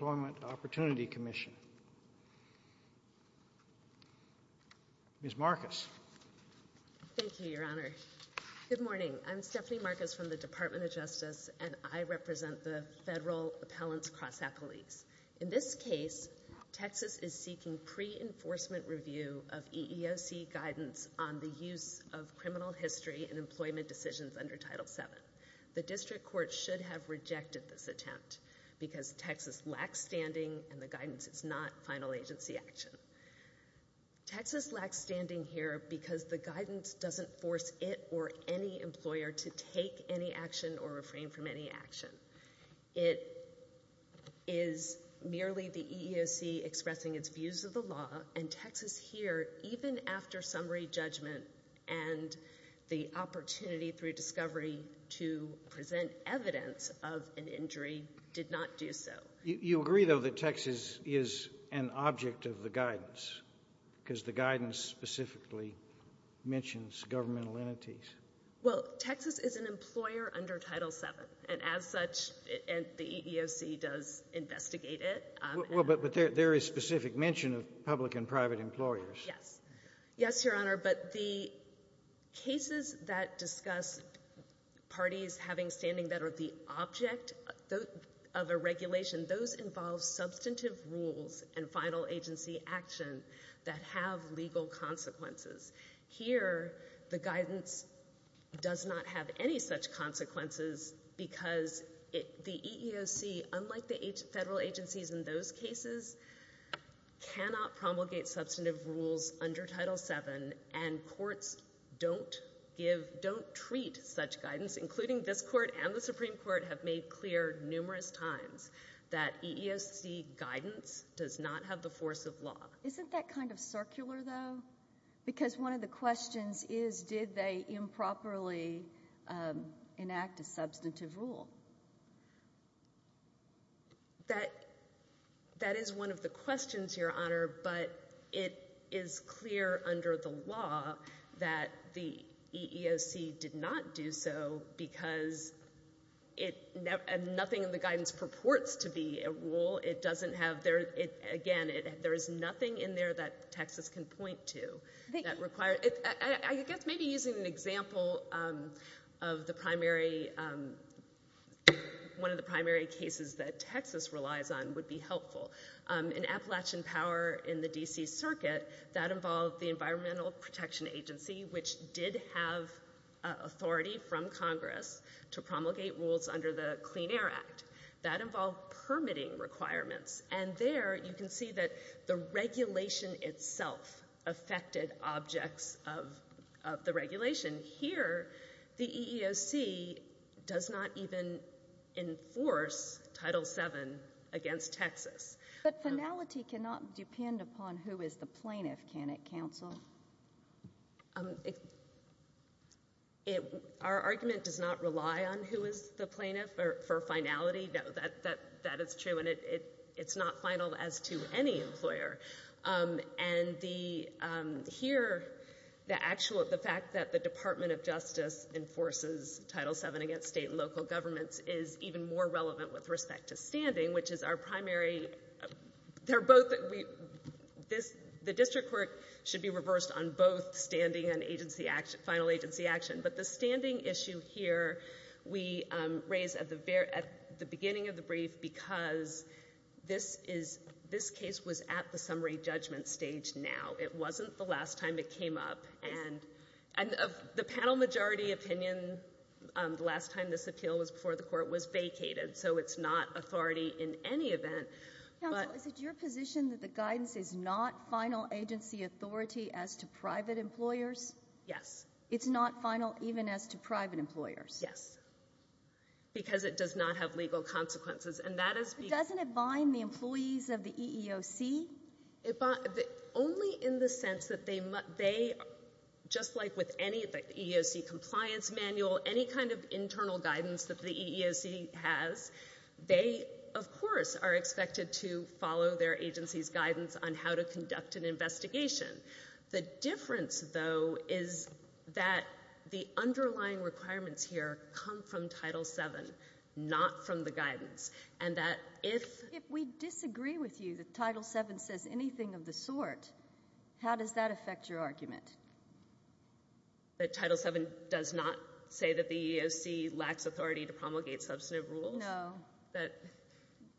Employment Opportunity Commission. Ms. Marcus. Thank you, Your Honor. Good morning. I'm Stephanie Marcus from the Department of Justice, and I represent the Federal Appellants Cross Appellees. In this case, Texas is seeking pre-enforcement review of EEOC guidance on the use of criminal history in employment decisions under Title VII. The District Court should have rejected this attempt because Texas lacks standing and the guidance is not final agency action. Texas lacks standing here because the guidance doesn't force it or any employer to take any action or refrain from any action. It is merely the EEOC expressing its views of the law, and Texas here, even after summary judgment and the opportunity through discovery to present evidence of an injury, did not do so. You agree, though, that Texas is an object of the guidance because the guidance specifically mentions governmental entities? Well, Texas is an employer under Title VII, and as such, the EEOC does investigate it. Well, but there is specific mention of public and private employers. Yes. Yes, Your Honor, but the cases that discuss parties having standing that are the object of a regulation, those involve substantive rules and final agency action that have legal consequences. Here, the guidance does not have any such consequences because the EEOC, unlike the federal agencies in those cases, don't treat such guidance, including this Court and the Supreme Court have made clear numerous times that EEOC guidance does not have the force of law. Isn't that kind of circular, though? Because one of the questions is, did they improperly enact a substantive rule? That is one of the questions, Your Honor, but it is clear under the law that the EEOC did not do so because nothing in the guidance purports to be a rule. Again, there is nothing in there that Texas can point to. I guess maybe using an example of one of the primary cases that Texas relies on would be helpful. In Appalachian Power in the D.C. Circuit, that involved the Environmental Protection Agency, which did have authority from Congress to promulgate rules under the Clean Air Act. That involved permitting requirements, and there you can see that the regulation itself affected objects of the regulation. Here, the EEOC does not even enforce Title VII against Texas. But finality cannot depend upon who is the plaintiff, can it, Counsel? Our argument does not rely on who is the plaintiff for finality. That is true, and it is not final as to any employer. Here, the fact that the Department of Justice enforces Title VII against state and local governments is even more relevant with respect to standing, which is our primary. The District Court should be reversed on both standing and final agency action, but the standing issue here we raised at the beginning of the brief because this case was at the summary judgment stage now. It was not the last time it came up. The panel majority opinion the last time this appeal was before the Court was vacated, so it's not authority in any event. Counsel, is it your position that the guidance is not final agency authority as to private employers? Yes. It's not final even as to private employers? Yes, because it does not have legal consequences, and that is because... But doesn't it bind the employees of the EEOC? Only in the sense that they, just like with any EEOC compliance manual, any kind of internal guidance that the EEOC has, they, of course, are expected to follow their agency's guidance on how to conduct an investigation. The difference, though, is that the underlying requirements here come from Title VII, not from the guidance, and that if... If we disagree with you that Title VII says anything of the sort, how does that affect your argument? That Title VII does not say that the EEOC lacks authority to promulgate substantive rules? No. That...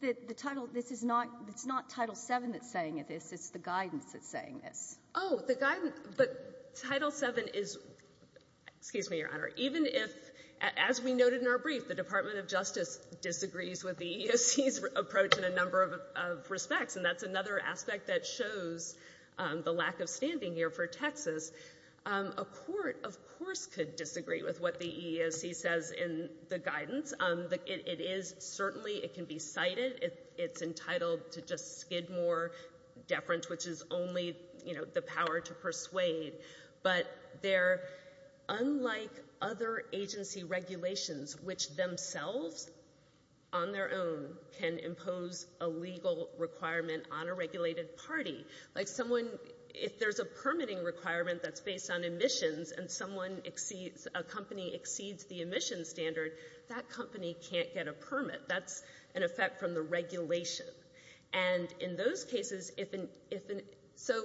The title... This is not... It's not Title VII that's saying it is. It's the guidance that's saying this. Oh, the guidance... But Title VII is... Excuse me, Your Honor. Even if, as we noted in our brief, the Department of Justice disagrees with the EEOC's approach in a number of respects, and that's another aspect that shows the lack of standing here for Texas, a court, of course, could disagree with what the EEOC says in the guidance. It is... Certainly, it can be cited. It's entitled to just skid more deference, which is only, you know, the power to persuade. But they're... Unlike other agency regulations, which themselves, on their own, can impose a legal requirement on a regulated party, like someone... If there's a permitting requirement that's based on emissions and someone exceeds... A company exceeds the emissions standard, that company can't get a permit. That's an effect from the regulation. And in those cases, if an... So,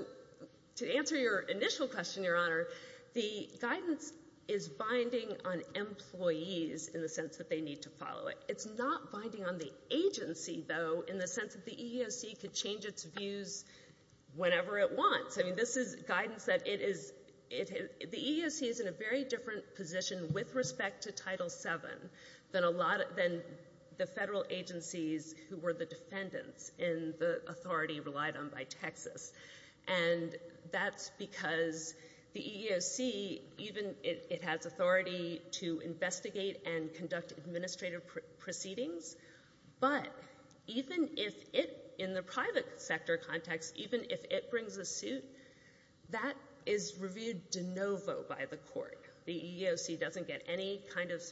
to answer your initial question, Your Honor, the guidance is binding on employees in the sense that they need to follow it. It's not binding on the agency, though, in the sense that the EEOC could change its views whenever it wants. I mean, this is guidance that it is... The EEOC is in a very different position with respect to Title VII than a lot... Than the federal agencies who were the defendants in the authority relied on by Texas. And that's because the EEOC, even... It has authority to investigate and conduct administrative proceedings. But even if it... In the private sector context, even if it brings a suit, that is reviewed de novo by the court. The EEOC doesn't get any kind of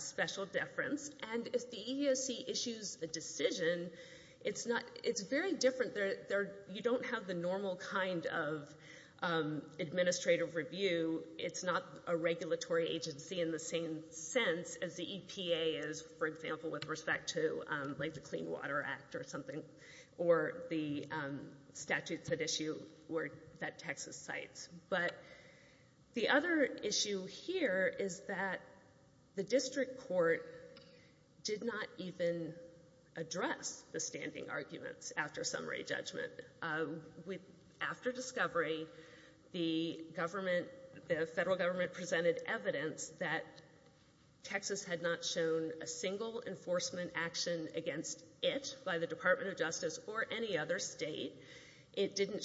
special deference. And if the EEOC issues a decision, it's not... It's very different. You don't have the normal kind of administrative review. It's not a regulatory agency in the same sense as the EPA is, for example, with respect to, like, the Clean Water Act or something, or the statutes that issue that Texas cites. But the other issue here is that the district court did not even address the standing arguments after summary judgment. After discovery, the government... The federal government presented evidence that Texas had not shown a single enforcement action against it by the EEOC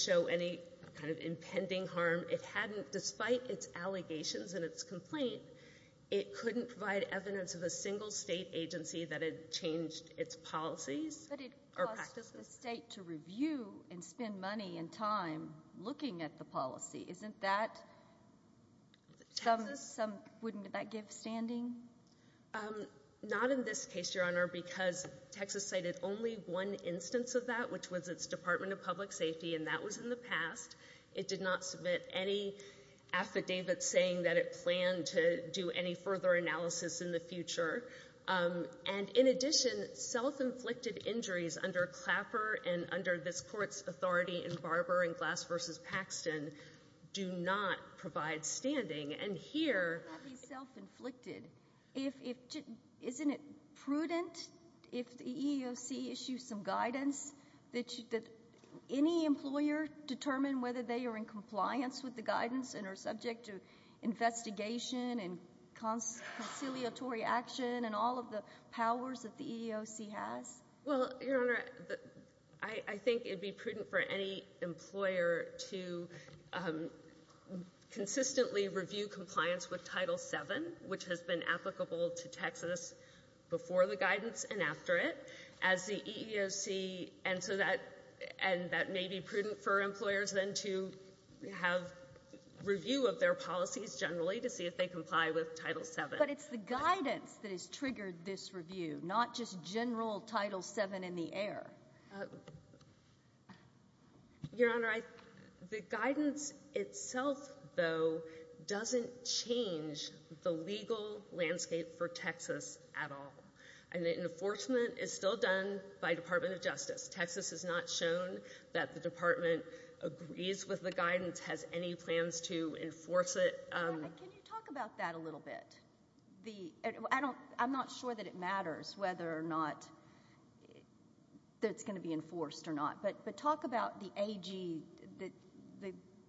to any kind of impending harm. It hadn't... Despite its allegations and its complaint, it couldn't provide evidence of a single state agency that had changed its policies or practices. But it cost the state to review and spend money and time looking at the policy. Isn't that... Texas... Wouldn't that give standing? Not in this case, Your Honor, because Texas cited only one instance of that, which was its Department of Public Safety, and that was in the past. It did not submit any affidavit saying that it planned to do any further analysis in the future. And in addition, self-inflicted injuries under Clapper and under this court's authority in Barber and Glass v. Paxton do not provide standing. And here... How can that be self-inflicted if... Isn't it prudent if the EEOC issues some guidance that any employer determine whether they are in compliance with the guidance and are subject to investigation and conciliatory action and all of the powers that the EEOC has? Well, Your Honor, I think it'd be prudent for any employer to consistently review compliance with Title VII, which has been applicable to Texas before the guidance and after it, as the EEOC... And so that... And that may be prudent for employers then to have review of their policies generally to see if they comply with Title VII. But it's the guidance that has triggered this review, not just general Title VII in the air. Your Honor, I... The guidance itself, though, doesn't change the legal landscape for Texas at all. And the enforcement is still done by Department of Justice. Texas has not shown that the department agrees with the guidance, has any plans to enforce it. Can you talk about that a little bit? The... I don't... I'm not sure that it matters whether or not that it's going to be enforced or not. But talk about the AG,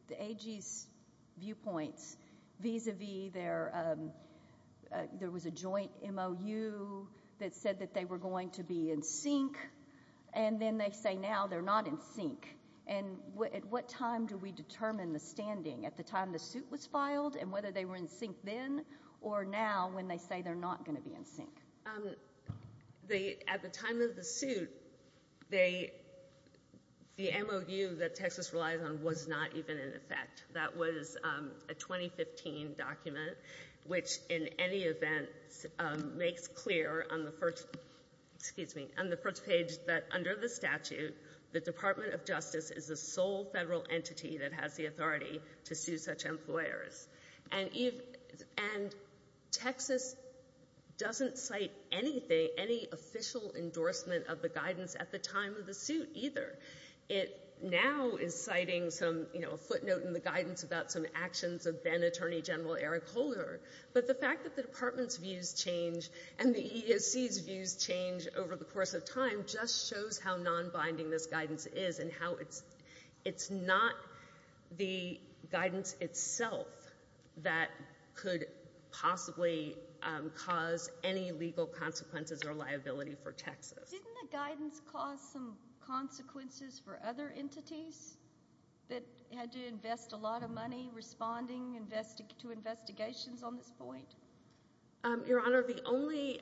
the AG's viewpoints, vis-a-vis there was a joint MOU that said that they were going to be in sync, and then they say now they're not in sync. And at what time do we determine the standing? At the time the suit was filed and whether they were in sync then or now when they say they're not going to be in sync? The... At the time of the suit, they... The MOU that Texas relies on was not even in effect. That was a 2015 document, which in any event makes clear on the first... Excuse me, on the first page that under the statute, the Department of Justice is the sole federal entity that has the authority to sue such employers. And even... And Texas doesn't cite anything, any official endorsement of the guidance at the time of the suit either. It now is citing some, you know, a footnote in the guidance about some actions of then Attorney General Eric Holder. But the fact that the department's views change and the EEOC's views change over the course of the guidance itself, that could possibly cause any legal consequences or liability for Texas. Didn't the guidance cause some consequences for other entities that had to invest a lot of money responding to investigations on this point? Your Honor, the only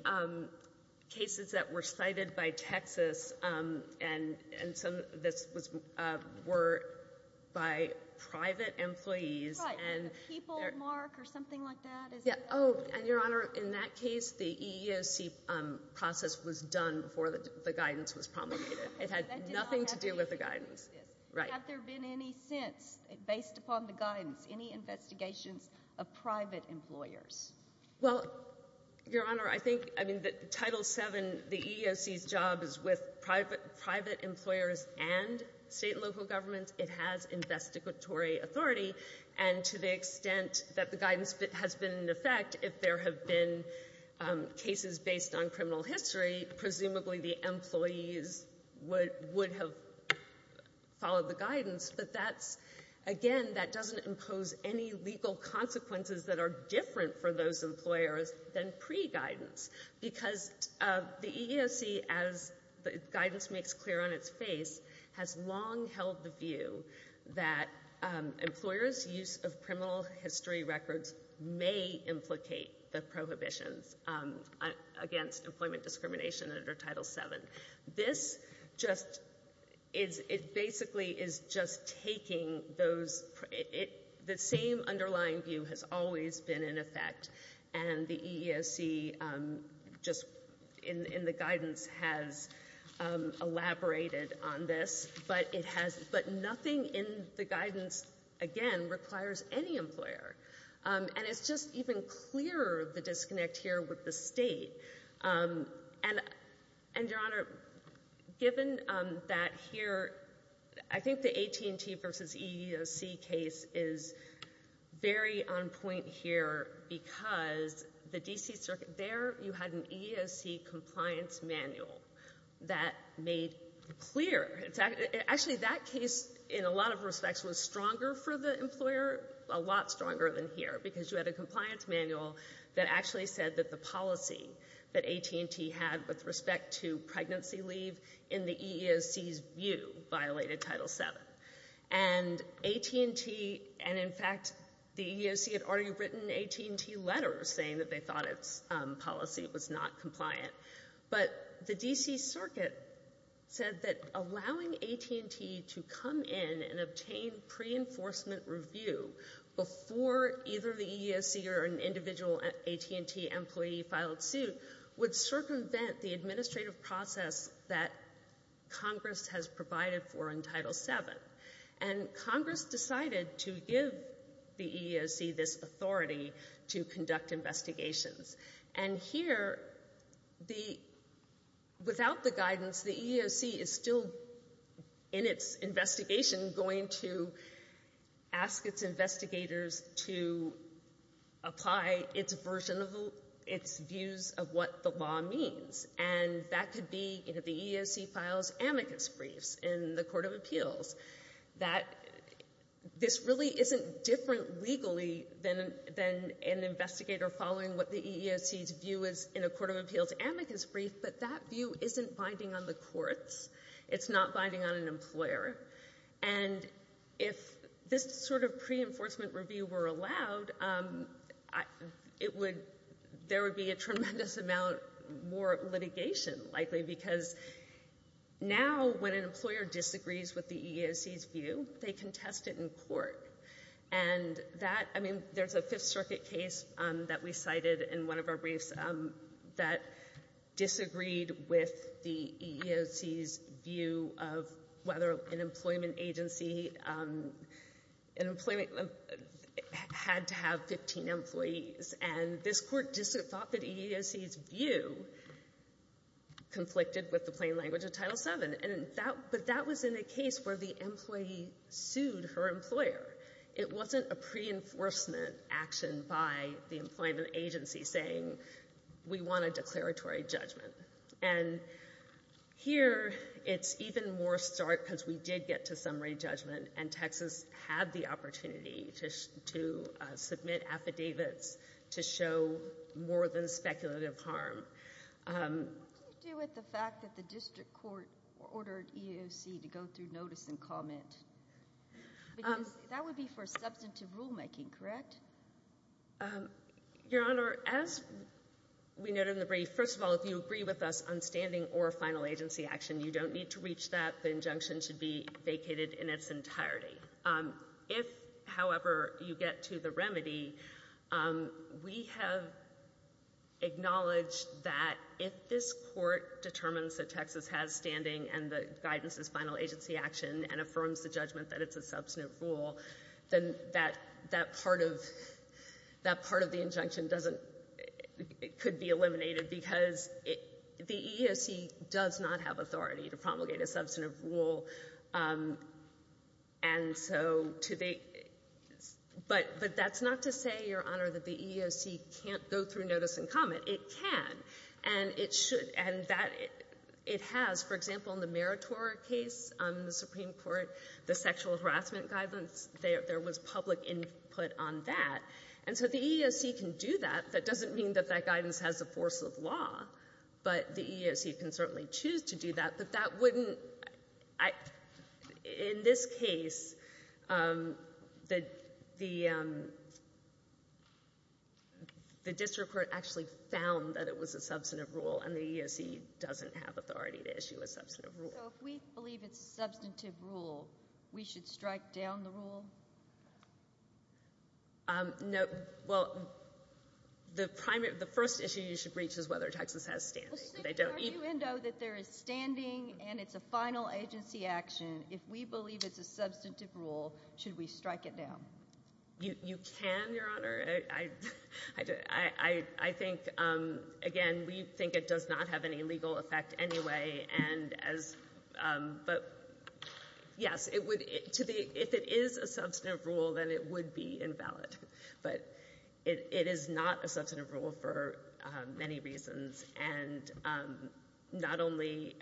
cases that were cited by Texas and some... This was... Were by private employees and... Right, the people mark or something like that? Yeah. Oh, and Your Honor, in that case, the EEOC process was done before the guidance was promulgated. It had nothing to do with the guidance. Right. Have there been any since, based upon the guidance, any investigations of private employers? Well, Your Honor, I think, I mean, the Title VII, the EEOC's job is with private employers and state and local governments. It has investigatory authority. And to the extent that the guidance has been in effect, if there have been cases based on criminal history, presumably the employees would have followed the guidance. But that's, again, that doesn't impose any legal consequences that are because the EEOC, as the guidance makes clear on its face, has long held the view that employers' use of criminal history records may implicate the prohibitions against employment discrimination under Title VII. This just is... It basically is just taking those... The same underlying view has always been in effect. And the EEOC, just in the guidance, has elaborated on this. But it has... But nothing in the guidance, again, requires any employer. And it's just even clearer, the disconnect here with the state. And Your Honor, given that here, I think the AT&T versus EEOC case is very on point here because the D.C. Circuit, there you had an EEOC compliance manual that made clear... Actually, that case, in a lot of respects, was stronger for the employer, a lot stronger than here, because you had a compliance manual that actually said that the policy that AT&T had with respect to pregnancy leave in the EEOC's view violated Title VII. And AT&T... And in fact, the EEOC had already written AT&T letters saying that they thought its policy was not compliant. But the D.C. Circuit said that allowing AT&T to come in and obtain pre-enforcement review before either the EEOC or an individual AT&T employee filed suit would circumvent the administrative process that Congress has provided for in Title VII. And Congress decided to give the EEOC this authority to conduct investigations. And here, without the guidance, the EEOC is still, in its investigation, going to ask its investigators to apply its version of its views of what the law means. And that could be, you know, the EEOC files amicus briefs in the Court of Appeals. This really isn't different legally than an investigator following what the EEOC's view is in a Court of Appeals amicus brief, but that view isn't binding on the courts. It's not binding on an employer. And if this sort of pre-enforcement review were allowed, there would be a tremendous amount more litigation, likely, because now, when an employer disagrees with the EEOC's view, they can test it in court. And that, I mean, there's a Fifth Circuit case that we cited in one of our briefs that disagreed with the EEOC's of whether an employment agency had to have 15 employees. And this court just thought that EEOC's view conflicted with the plain language of Title VII. But that was in a case where the employee sued her employer. It wasn't a pre-enforcement action by the employment agency saying, we want a declaratory judgment. And here, it's even more stark because we did get to summary judgment, and Texas had the opportunity to submit affidavits to show more than speculative harm. What do you do with the fact that the district court ordered EEOC to go through notice and comment? Because that would be for substantive rulemaking, correct? Your Honor, as we noted in the brief, first of all, if you agree with us on standing or final agency action, you don't need to reach that. The injunction should be vacated in its entirety. If, however, you get to the remedy, we have acknowledged that if this court determines that Texas has standing and the guidance is final agency action and affirms the judgment that it's a substantive rule, then that part of the injunction doesn't, it could be eliminated because the EEOC does not have authority to promulgate a substantive rule. But that's not to say, Your Honor, that the EEOC can't go through notice and comment. It can, and it should, and that it has. For example, in the Meritor case on the Supreme Court, the sexual harassment guidance, there was public input on that. And so the EEOC can do that. That doesn't mean that that guidance has the force of law, but the EEOC can certainly choose to do that. But that wouldn't, in this case, the district court actually found that it was a substantive rule, and the EEOC doesn't have authority to issue a substantive rule. So if we believe it's a substantive rule, we should strike down the rule? No. Well, the primary, the first issue you should reach is whether Texas has standing. They don't even— Well, since you know that there is standing and it's a final agency action, if we believe it's a substantive rule, should we strike it down? You can, Your Honor. I think, again, we think it does not have any legal effect anyway. But yes, if it is a substantive rule, then it would be invalid. But it is not a substantive rule for many reasons. And not only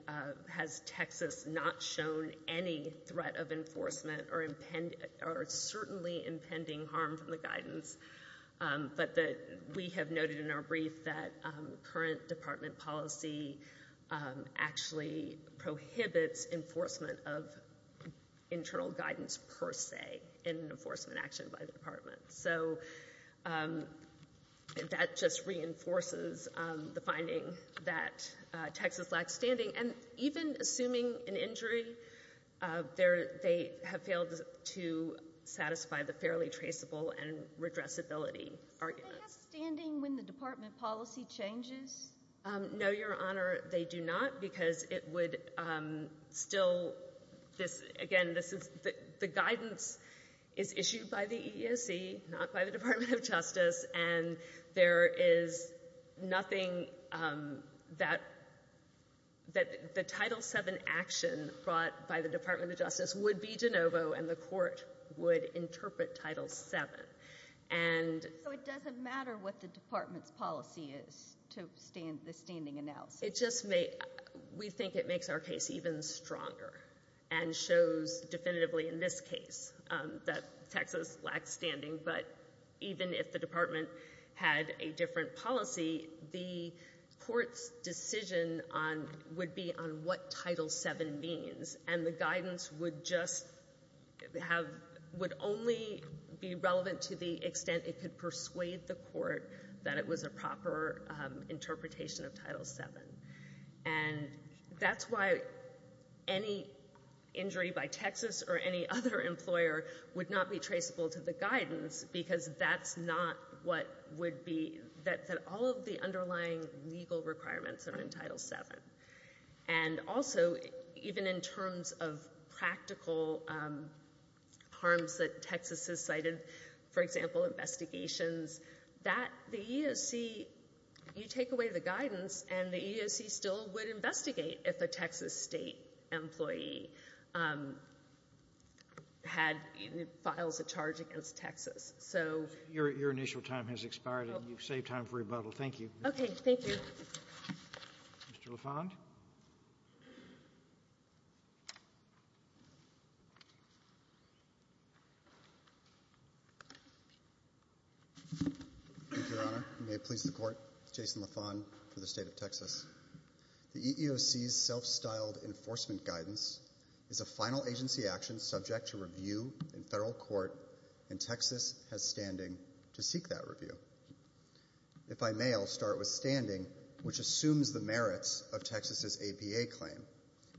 has Texas not shown any threat of enforcement or certainly impending harm from the guidance, but that we have noted in our brief that current department policy actually prohibits enforcement of internal guidance per se in an enforcement action by the department. So that just reinforces the finding that Texas lacks standing. And even assuming an satisfactory, the fairly traceable and redressability argument. So they have standing when the department policy changes? No, Your Honor, they do not, because it would still—again, the guidance is issued by the EEOC, not by the Department of Justice. And there is nothing that—the Title VII action brought by Department of Justice would be de novo, and the court would interpret Title VII. And— So it doesn't matter what the department's policy is to the standing analysis? It just—we think it makes our case even stronger and shows definitively in this case that Texas lacks standing. But even if the department had a different policy, the guidance would just have—would only be relevant to the extent it could persuade the court that it was a proper interpretation of Title VII. And that's why any injury by Texas or any other employer would not be traceable to the guidance, because that's not what would be—that all of the practical harms that Texas has cited—for example, investigations—that the EEOC, you take away the guidance, and the EEOC still would investigate if a Texas state employee had—files a charge against Texas. So— Your initial time has expired, and you've saved time for rebuttal. Thank you. Okay. Thank you. Mr. LaFond? Thank you, Your Honor. You may please the court. Jason LaFond for the state of Texas. The EEOC's self-styled enforcement guidance is a final agency action subject to review in federal court, and Texas has standing to seek that review. If I may, I'll start with standing, which assumes the merits of Texas's APA claim.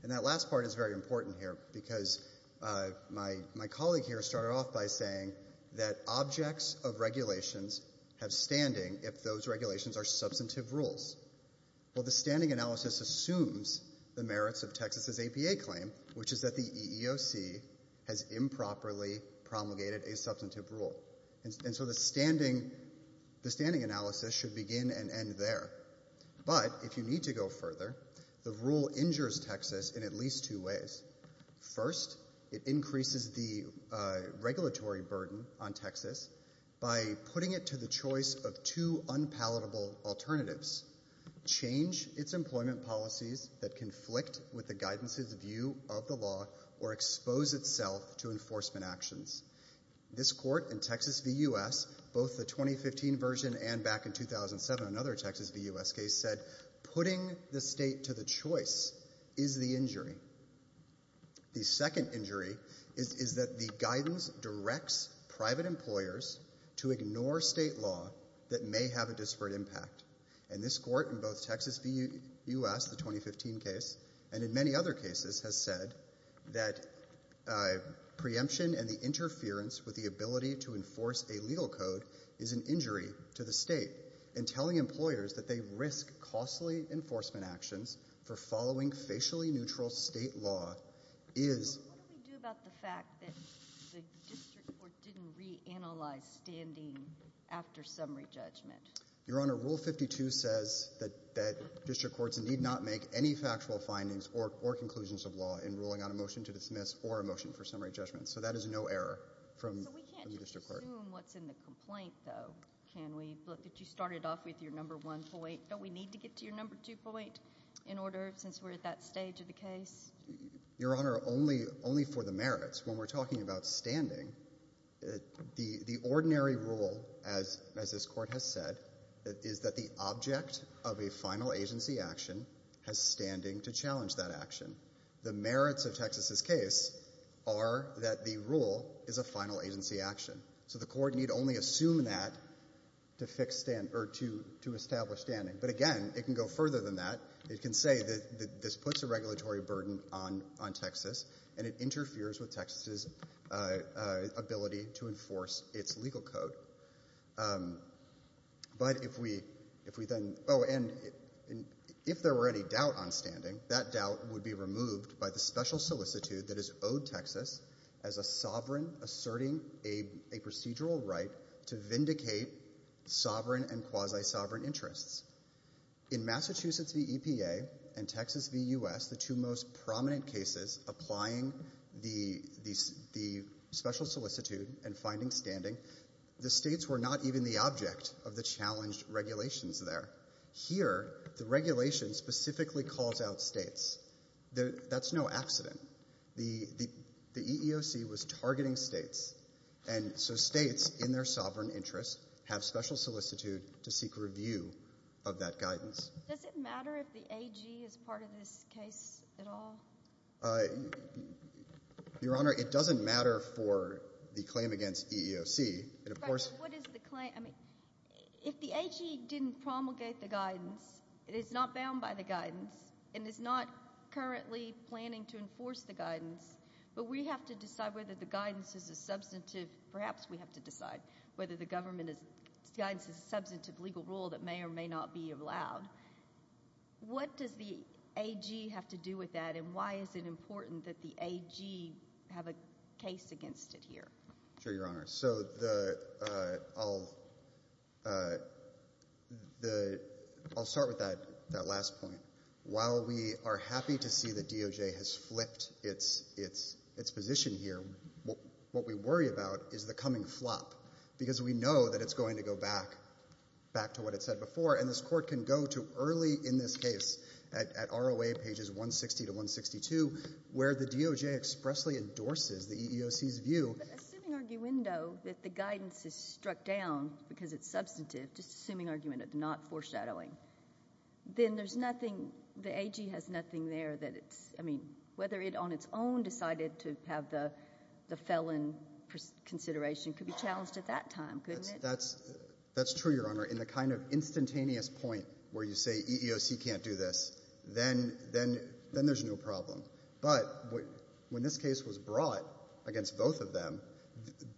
And that last part is very important here, because my colleague here started off by saying that objects of regulations have standing if those regulations are substantive rules. Well, the standing analysis assumes the merits of Texas's APA claim, which is that the EEOC has improperly promulgated a substantive rule. And so the standing analysis should begin and end there. But if you need to go further, the rule injures Texas in at least two ways. First, it increases the regulatory burden on Texas by putting it to the choice of two unpalatable alternatives—change its employment policies that conflict with the guidance's view of the law or expose itself to enforcement actions. This Court in Texas v. U.S., both the 2015 version and back in 2007, another Texas v. U.S. case, said putting the state to the choice is the injury. The second injury is that the guidance directs private employers to ignore state law that may have a disparate impact. And this Court in both Texas v. U.S., the 2015 case, and in many other cases, has said that preemption and the interference with the ability to enforce a legal code is an injury to the state. And telling employers that they risk costly enforcement actions for following facially neutral state law is— But what do we do about the fact that the district court didn't reanalyze standing after summary judgment? Your Honor, Rule 52 says that district courts need not make any factual findings or conclusions of law in ruling on a motion to dismiss or a motion for summary judgment. So that is no error from the district court. So we can't just assume what's in the complaint, though, can we? Look, if you started off with your number one point, don't we need to get to your number two point in order, since we're at that stage of the case? Your Honor, only for the merits. When we're talking about standing, the ordinary rule, as this Court has said, is that the object of a final agency action has standing to challenge that action. The merits of Texas's case are that the rule is a final agency action. So the Court need only assume that to establish standing. But again, it can go further than that. It can say that this puts a regulatory burden on Texas, and it interferes with Texas's ability to enforce its legal code. But if we then—oh, and if there were any doubt on standing, that doubt would be removed by the special solicitude that is owed Texas as a sovereign, asserting a procedural right to vindicate sovereign and quasi-sovereign interests. In Massachusetts v. EPA and Texas v. U.S., the two most prominent cases applying the special solicitude and finding standing, the states were not even the object of the challenged regulations there. Here, the regulation specifically calls out states. That's no accident. The EEOC was targeting states, and so states, in their sovereign interests, have special solicitude to seek review of that guidance. Does it matter if the AG is part of this case at all? Your Honor, it doesn't matter for the claim against EEOC. But what is the claim? If the AG didn't promulgate the guidance, it is not bound by the guidance, and is not currently planning to enforce the guidance, but we have to decide whether the guidance is a substantive—perhaps we have to decide whether the government is—guidance is a substantive legal rule that may or may not be allowed. What does the AG have to do with that, and why is it important that the the—I'll start with that last point. While we are happy to see that DOJ has flipped its position here, what we worry about is the coming flop, because we know that it's going to go back back to what it said before, and this Court can go to early in this case at ROA pages 160 to 162, where the DOJ expressly endorses the EEOC's view— just assuming argument—of not foreshadowing. Then there's nothing—the AG has nothing there that it's—I mean, whether it on its own decided to have the felon consideration could be challenged at that time, couldn't it? That's true, Your Honor. In the kind of instantaneous point where you say EEOC can't do this, then there's no problem. But when this case was brought against both of them,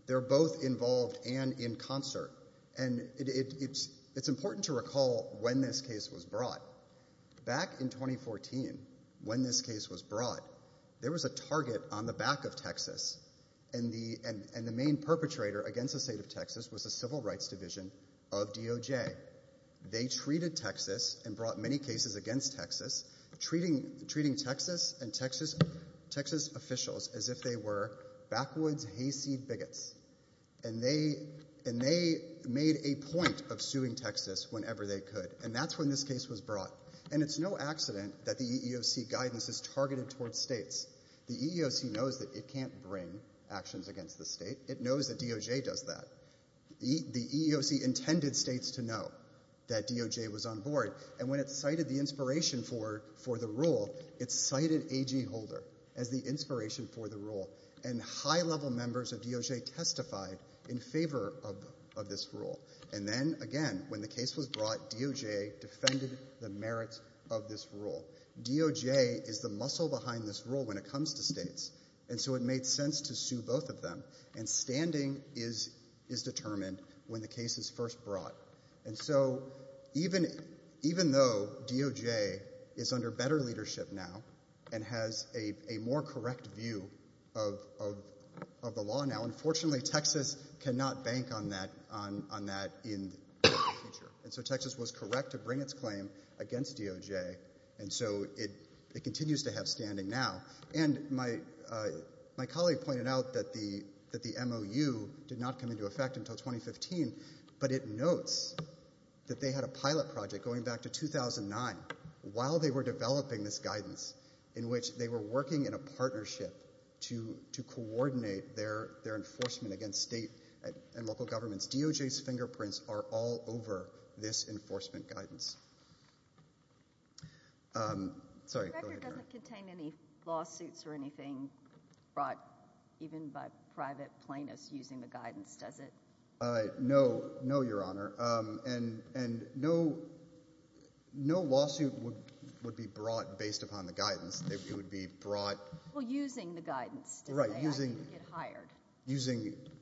they're both involved and in concert, and it's important to recall when this case was brought. Back in 2014, when this case was brought, there was a target on the back of Texas, and the main perpetrator against the state of Texas was the Civil Rights Division of DOJ. They treated Texas and brought many cases against Texas, treating Texas and Texas officials as if they were backwoods hayseed bigots, and they made a point of suing Texas whenever they could, and that's when this case was brought. And it's no accident that the EEOC guidance is targeted towards states. The EEOC knows that it can't bring actions against the state. It knows that DOJ does that. The EEOC intended states to know that DOJ was on board, and when it cited the inspiration for the rule, it cited A.G. Holder as the inspiration for the rule, and high-level members of DOJ testified in favor of this rule. And then, again, when the case was brought, DOJ defended the merits of this rule. DOJ is the muscle behind this rule when it comes to states, and so it made sense to sue both of them, and standing is determined when the case is first brought. And so even though DOJ is under better leadership now and has a more correct view of the law now, unfortunately, Texas cannot bank on that in the future. And so Texas was correct to bring its claim against DOJ, and so it continues to have standing now. And my colleague pointed out that the MOU did not come into effect until 2015, but it notes that they had a pilot project going back to 2009, while they were developing this guidance, in which they were working in a partnership to coordinate their enforcement against state and local governments. DOJ's fingerprints are all over the record. The record doesn't contain any lawsuits or anything brought even by private plaintiffs using the guidance, does it? No, no, Your Honor. And no lawsuit would be brought based upon the guidance. It would be brought... Well, using the guidance to say I can get hired. Right,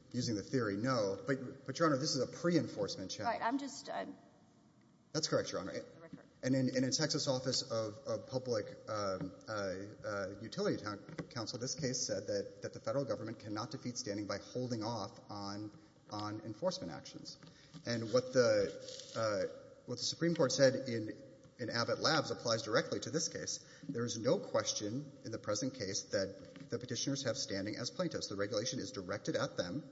using the theory, no. But, Your Honor, this is a pre-enforcement challenge. Right, I'm just... That's correct, Your Honor. And in a Texas office of public utility counsel, this case said that the federal government cannot defeat standing by holding off on enforcement actions. And what the Supreme Court said in Abbott Labs applies directly to this case. There is no question in the present case that the petitioners have standing as plaintiffs. The regulation is directed at them,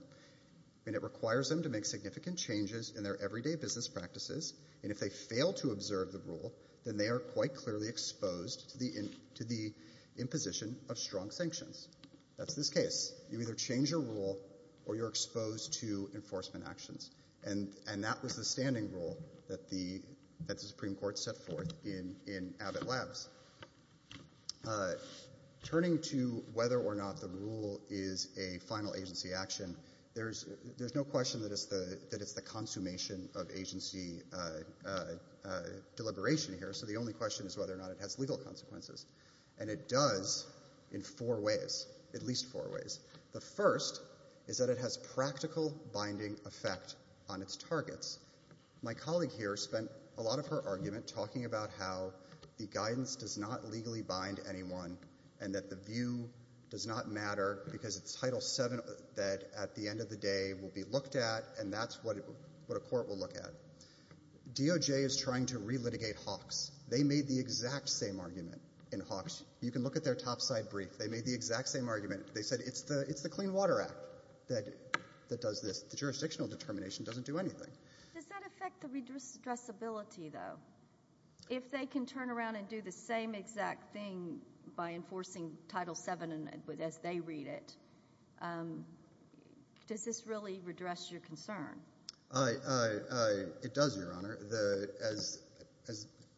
and it requires them to make significant changes in their everyday business practices and if they fail to observe the rule, then they are quite clearly exposed to the imposition of strong sanctions. That's this case. You either change your rule or you're exposed to enforcement actions. And that was the standing rule that the Supreme Court set forth in Abbott Labs. Turning to whether or not the rule is a final agency action, there's no question that it's a consummation of agency deliberation here, so the only question is whether or not it has legal consequences. And it does in four ways, at least four ways. The first is that it has practical binding effect on its targets. My colleague here spent a lot of her argument talking about how the guidance does not legally bind anyone and that the view does not matter because it's Title VII that at the end of the day will be looked at and that's what a court will look at. DOJ is trying to relitigate Hawks. They made the exact same argument in Hawks. You can look at their top side brief. They made the exact same argument. They said it's the Clean Water Act that does this. The jurisdictional determination doesn't do anything. Does that affect the addressability though? If they can turn around and do the same exact thing by enforcing Title VII as they read it, does this really redress your concern? It does, Your Honor.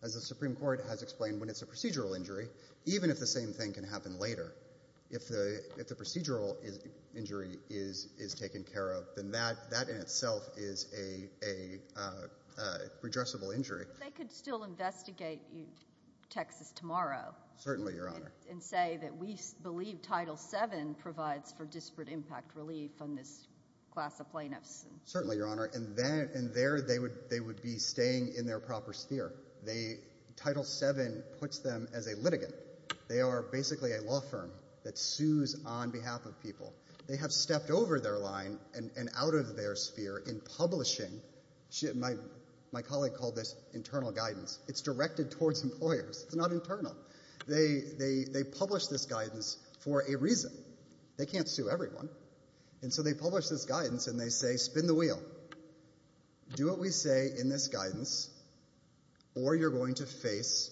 As the Supreme Court has explained, when it's a procedural injury, even if the same thing can happen later, if the procedural injury is taken care of, then that in itself is a redressable injury. They could still investigate Texas tomorrow and say that we believe Title VII provides for disparate impact relief on this class of plaintiffs. Certainly, Your Honor. And there they would be staying in their proper sphere. Title VII puts them as a litigant. They are basically a law firm that sues on behalf of people. They have stepped over their line and out of their sphere in publishing. My colleague called this internal guidance. It's directed towards employers. It's not internal. They publish this guidance for a reason. They can't sue everyone. And so they publish this guidance and they say, spin the wheel. Do what we say in this guidance or you're going to face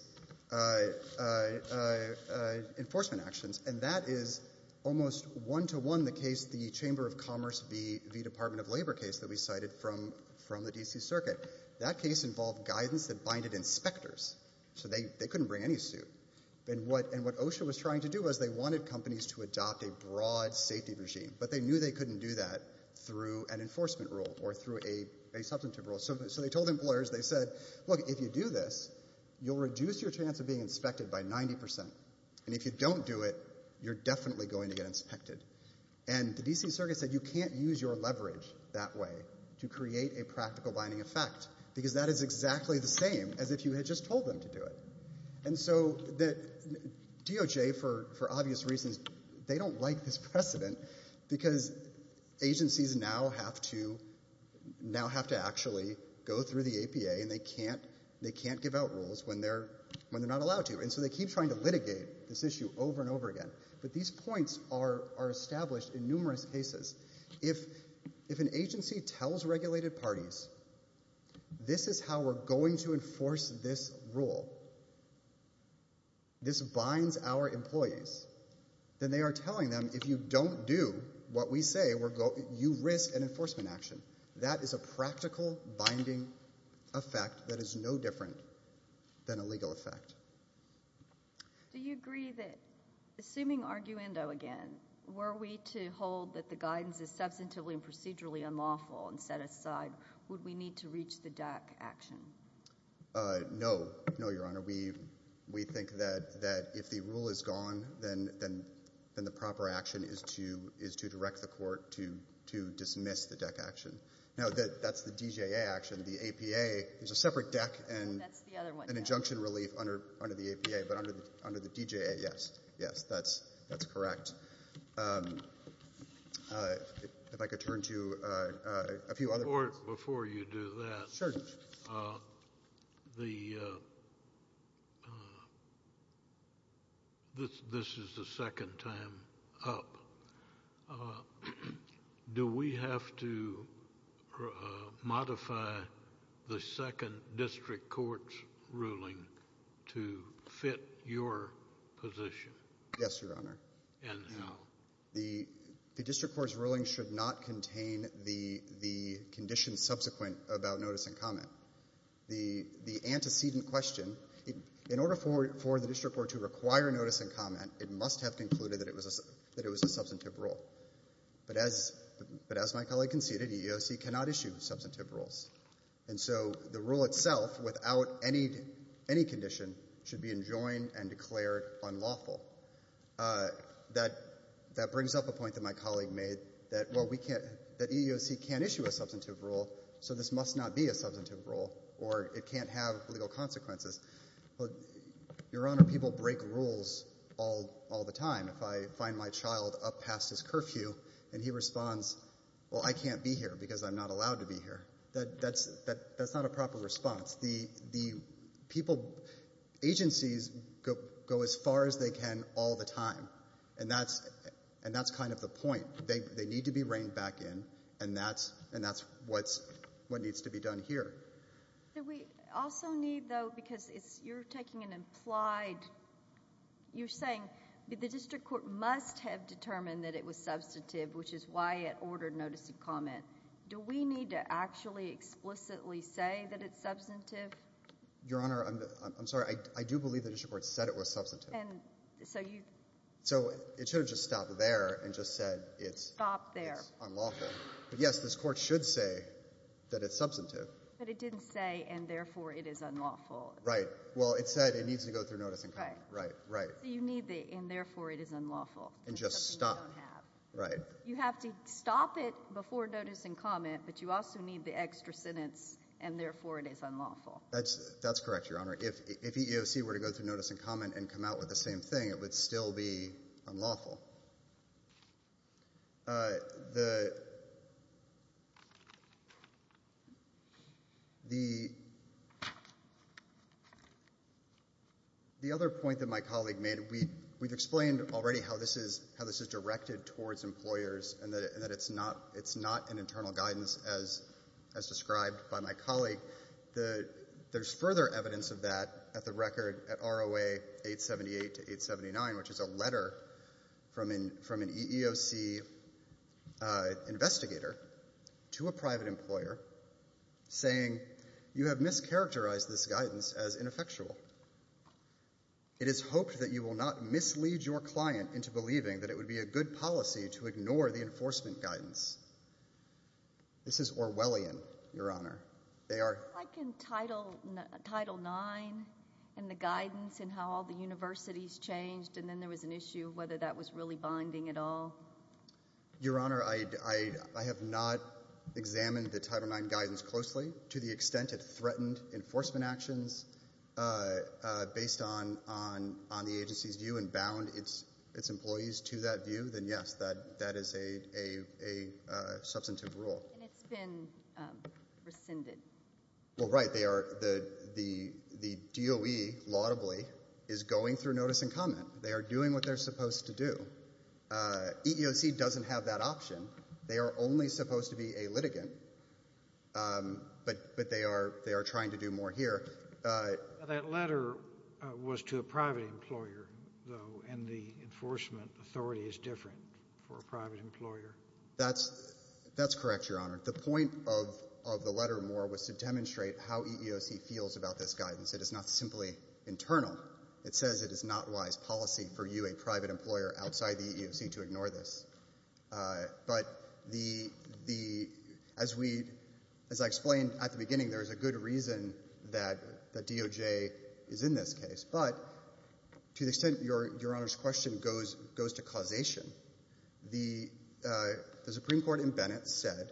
enforcement actions. And that is almost one-to-one the case, the Chamber of Commerce v. Department of Labor case that we cited from the D.C. Circuit. That involved guidance that binded inspectors. So they couldn't bring any suit. And what OSHA was trying to do was they wanted companies to adopt a broad safety regime. But they knew they couldn't do that through an enforcement rule or through a substantive rule. So they told employers, they said, look, if you do this, you'll reduce your chance of being inspected by 90%. And if you don't do it, you're definitely going to get inspected. And the D.C. Circuit said you can't use your leverage that way to create a practical binding effect because that is exactly the same as if you had just told them to do it. And so DOJ, for obvious reasons, they don't like this precedent because agencies now have to actually go through the APA and they can't give out rules when they're not allowed to. And so they keep trying to litigate this issue over and over again. But these points are established in numerous cases. If an agency tells regulated parties this is how we're going to enforce this rule, this binds our employees, then they are telling them if you don't do what we say, you risk an enforcement action. That is a practical binding effect that is no different than a legal effect. Do you agree that, assuming arguendo again, were we to hold that the guidance is substantively and procedurally unlawful and set aside, would we need to reach the DEC action? No. No, Your Honor. We think that if the rule is gone, then the proper action is to direct the court to dismiss the DEC action. Now, that's the DJA action. The APA is a separate DEC and an injunction relief under the APA, but under the DJA, yes. Yes, that's correct. If I could turn to a few other... Your Honor, before you do that... Sure, Judge. The... this is the second time up. Do we have to modify the second district court's ruling to fit your position? Yes, Your Honor. And how? The district court's ruling should not contain the conditions subsequent about notice and comment. The antecedent question, in order for the district court to require notice and comment, it must have concluded that it was a substantive rule. But as my colleague conceded, EEOC cannot issue substantive rules. And so the rule itself, without any condition, should be enjoined and declared unlawful. That brings up a point that my colleague made that, well, we can't... that EEOC can't issue a substantive rule, so this must not be a substantive rule, or it can't have legal consequences. Your Honor, people break rules all the time. If I find my child up past his curfew and he responds, well, I can't be here because I'm not allowed to be here, that's not a proper response. The people... agencies go as far as they can all the time, and that's kind of the point. They need to be reined back in, and that's what needs to be done here. Do we also need, though, because you're taking an implied... you're saying the district court must have determined that it was substantive, which is why it ordered notice and comment, do we need to actually explicitly say that it's substantive? Your Honor, I'm sorry. I do believe the district court said it was substantive. And so you... So it should have just stopped there and just said it's unlawful. Stopped there. But yes, this court should say that it's substantive. But it didn't say, and therefore it is unlawful. Right. Well, it said it needs to go through notice and comment. Right. Right. Right. So you need the, and therefore it is unlawful. And just stop. Right. You have to stop it before notice and comment, but you also need the extra sentence, and therefore it is unlawful. That's correct, Your Honor. If EEOC were to go through notice and comment and come out with the same thing, it would still be unlawful. Well, the other point that my colleague made, we've explained already how this is directed towards employers and that it's not an internal guidance as described by my colleague. There's further evidence of that at the record at ROA 878 to 879, which is a letter from an EEOC investigator to a private employer saying, you have mischaracterized this guidance as ineffectual. It is hoped that you will not mislead your client into believing that it would be a good policy to not involve the public in this. But if you look at Title IX and the guidance and how all the universities changed, and then there was an issue of whether that was really binding at all. Your Honor, I have not examined the Title IX guidance closely to the extent it threatened enforcement actions based on the agency's view and bound its employees to that view, then yes, that is a substantive rule. And it's been rescinded. Well, right. The DOE, laudably, is going through notice and comment. They are doing what they're supposed to do. EEOC doesn't have that option. They are only supposed to be a litigant, but they are trying to do more here. That letter was to a private employer, though, and the enforcement authority is different for a private employer. That's correct, Your Honor. The point of the letter more was to demonstrate how EEOC feels about this guidance. It is not simply internal. It says it is not wise policy for you, a private employer outside the EEOC, to ignore this. But as I explained at the beginning, there is a good reason that DOJ is in this case. But to the extent Your Honor's question goes to causation, the Supreme Court in Bennett said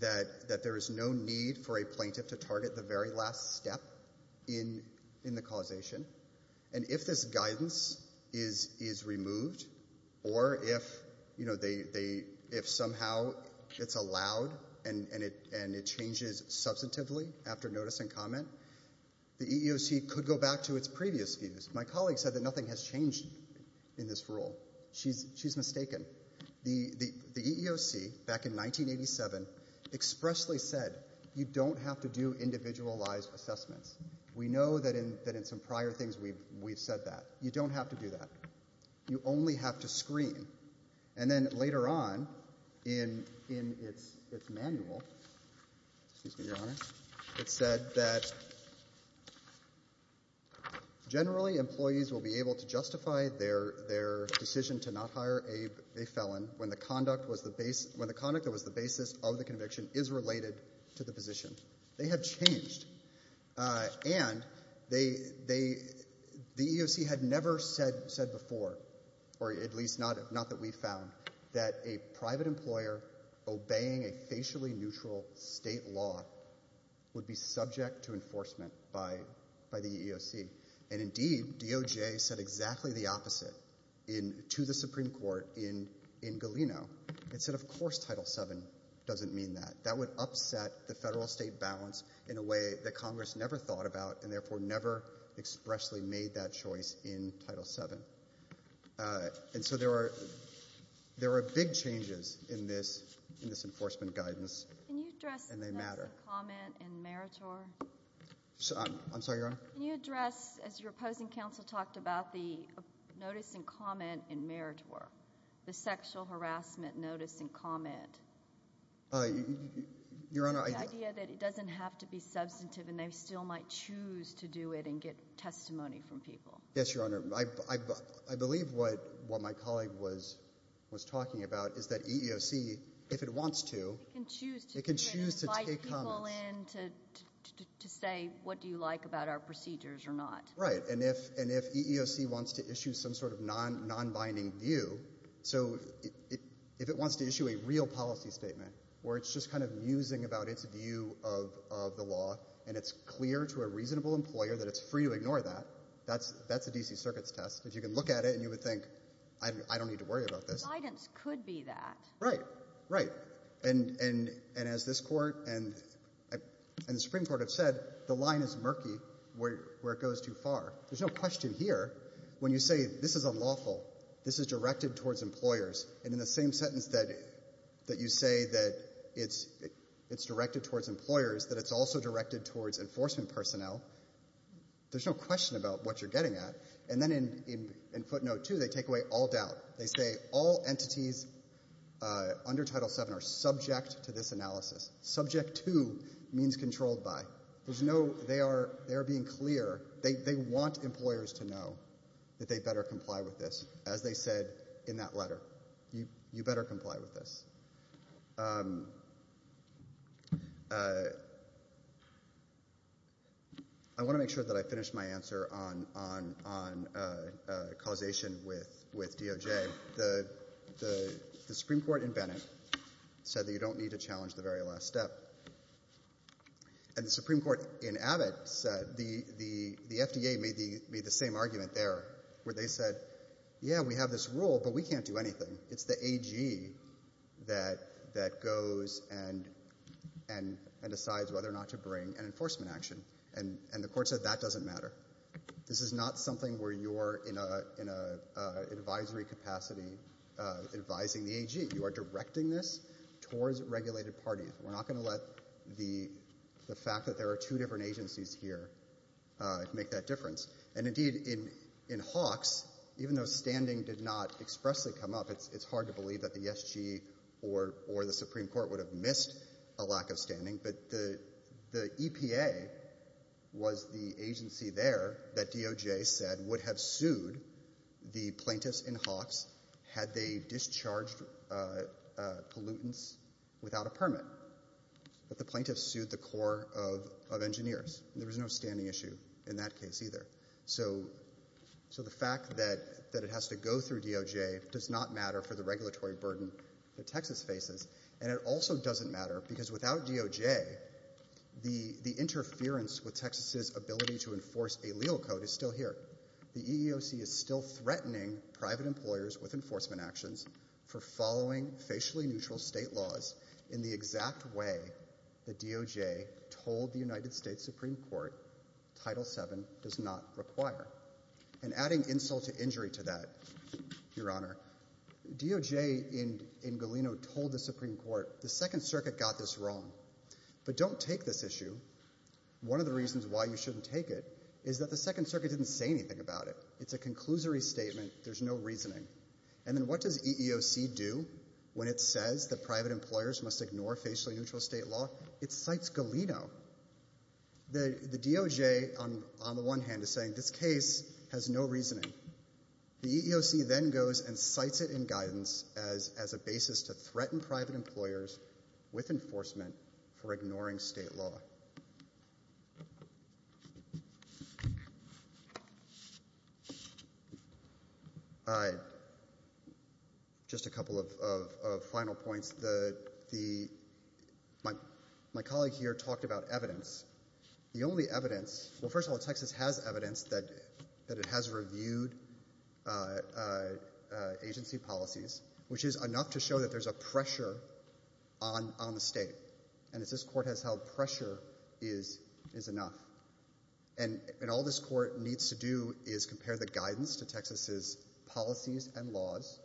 that there is no need for a plaintiff to target the very last step in the causation. And if this guidance is removed or if somehow it's allowed and it changes substantively after notice and comment, the EEOC could go back to its previous views. My colleague said that nothing has changed in this rule. She's mistaken. The EEOC, back in 1987, expressly said you don't have to do individualized assessments. We know that in some prior things we've said that. You don't have to do that. You only have to screen. And then later on in its manual, excuse me, Your Honor, it said that generally employees will be able to justify their decision to not hire a felon when the conduct that was the basis of the conviction is related to the position. They have changed. And the EEOC had never said before, or at least not that we found, that a mutually neutral state law would be subject to enforcement by the EEOC. And indeed, DOJ said exactly the opposite to the Supreme Court in Galeno. It said of course Title VII doesn't mean that. That would upset the federal state balance in a way that Congress never thought about and therefore never expressly made that choice in Title VII. And so there are big changes in this enforcement guidance and they matter. Can you address the notice and comment in meritor? I'm sorry, Your Honor? Can you address, as your opposing counsel talked about, the notice and comment in meritor, the sexual harassment notice and comment? The idea that it doesn't have to be substantive and they still might choose to do it and get testimony from people. Yes, Your Honor. I believe what my colleague was talking about is that EEOC, if it wants to, can choose to invite people in to to say what do you like about our procedures or not. Right. And if EEOC wants to issue some sort of non-binding view, so if it wants to issue a real policy statement where it's just kind of musing about its view of the law and it's clear to a reasonable employer that it's free to ignore that, that's a D.C. Circuit's test. If you can look at it and you would think, I don't need to worry about this. Guidance could be that. Right, right. And as this Court and the Supreme Court have said, the line is murky where it goes too far. There's no question here. When you say this is unlawful, this is directed towards employers, and in the same sentence that you say that it's directed towards employers, that it's also directed towards enforcement personnel, there's no question about what you're getting at. And then in footnote two, they take away all doubt. They say all entities under Title VII are subject to this analysis. Subject to means controlled by. There's no, they are being clear. They want employers to know that they better comply with I want to make sure that I finish my answer on causation with DOJ. The Supreme Court in Bennett said that you don't need to challenge the very last step. And the Supreme Court in Abbott said, the FDA made the same argument there where they said, yeah, we have this rule, but we can't do anything. It's the AG that goes and decides whether or not to bring an enforcement action. And the Court said that doesn't matter. This is not something where you're in an advisory capacity advising the AG. You are directing this towards regulated parties. We're not going to let the fact that there are two different agencies here make that difference. And indeed, in Hawks, even though standing did not expressly come up, it's hard to believe that the SG or the Supreme Court would have missed a lack of standing, but the EPA was the agency there that DOJ said would have sued the plaintiffs in Hawks had they discharged pollutants without a permit. But the plaintiffs sued the Corps of Engineers. There was no standing issue in that case either. So the fact that it has to go through DOJ does not matter for the regulatory burden that Texas faces. And it also doesn't matter because without DOJ, the interference with Texas's ability to enforce a legal code is still here. The EEOC is still threatening private employers with enforcement actions for following facially neutral state laws in the exact way the DOJ told the United States Supreme Court Title VII does not require. And adding insult to injury to that, Your Honor, DOJ in Galeno told the Supreme Court, the Second Circuit got this wrong. But don't take this issue. One of the reasons why you shouldn't take it is that the Second Circuit didn't say anything about it. It's a conclusory statement. There's no reasoning. And then what does EEOC do when it says that private employers must ignore facially neutral state law? It cites Galeno. The DOJ, on the one hand, is saying this case has no reasoning. The EEOC then goes and cites it in guidance as a basis to threaten private My colleague here talked about evidence. The only evidence, well, first of all, Texas has evidence that it has reviewed agency policies, which is enough to show that there's a pressure on the state. And as this Court has held, pressure is enough. And all this Court needs to do is compare the guidance to Texas's policies and laws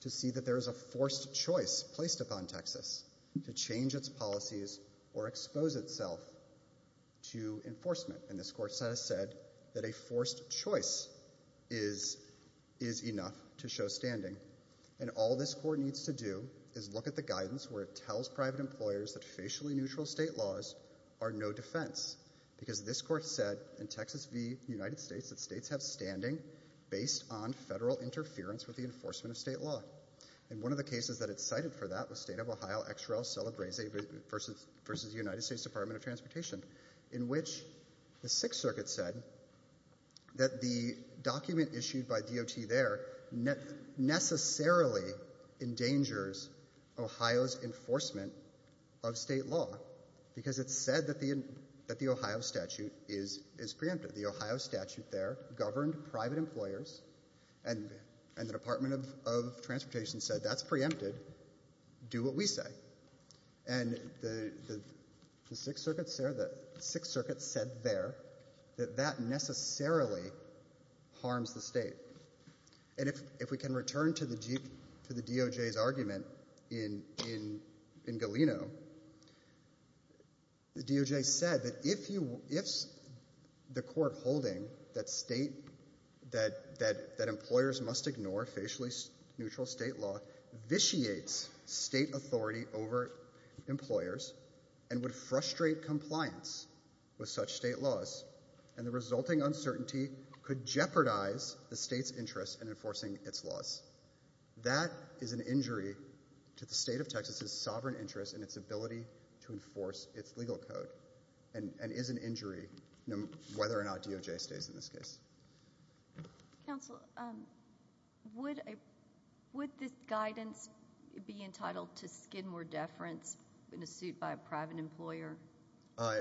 to see that there is a forced choice placed upon Texas to change its policies or expose itself to enforcement. And this Court has said that a forced choice is enough to show standing. And all this Court needs to do is look at the guidance where it tells private employers that facially neutral state laws are no defense. Because this Court said in Texas v. United States that states have standing based on federal interference with the enforcement of state law. And one of the cases that it cited for that was State of Ohio XRL Celebrese v. United States Department of Transportation, in which the Sixth Circuit said that the document issued by DOT there necessarily endangers Ohio's enforcement of state law because it said that the Ohio statute is preemptive. The Ohio statute there governed private employers and the Department of Transportation said that's preempted. Do what we say. And the Sixth Circuit said there that that necessarily harms the state. And if we can return to the DOJ's argument in Galeno, the DOJ said that if the Court holding that state, that employers must ignore facially neutral state law, vitiates state authority over employers and would frustrate compliance with such state laws, and the resulting uncertainty could jeopardize the state's interest in enforcing its laws, that is an injury to the state of Texas's sovereign interest in its ability to enforce its legal code, and is an injury whether or not DOJ stays in this case. Counsel, would this guidance be entitled to skid more deference in a suit by a private employer? I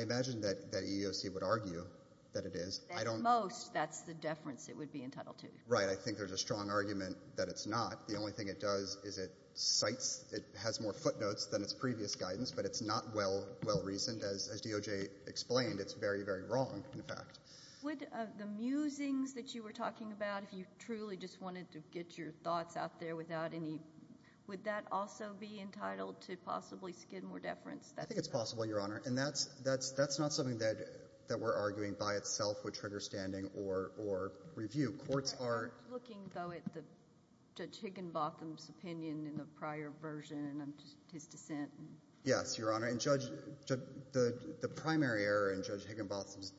imagine that that EEOC would argue that it is. At most, that's the deference it would be entitled to. Right, I think there's a strong argument that it's not. The only thing it does is it cites, it has more footnotes than its previous guidance, but it's not well, well-reasoned. As DOJ explained, it's very, very wrong, in fact. Would the musings that you were talking about, if you truly just wanted to get your thoughts out there without any, would that also be entitled to possibly skid more deference? I think it's possible, Your Honor. And that's, that's, that's not something that, that we're arguing by itself would trigger standing or, or review. Courts are – Looking, though, at the, Judge Higginbotham's opinion in the prior version and his dissent. Yes, Your Honor. And Judge, the, the primary error in Judge Higginbotham's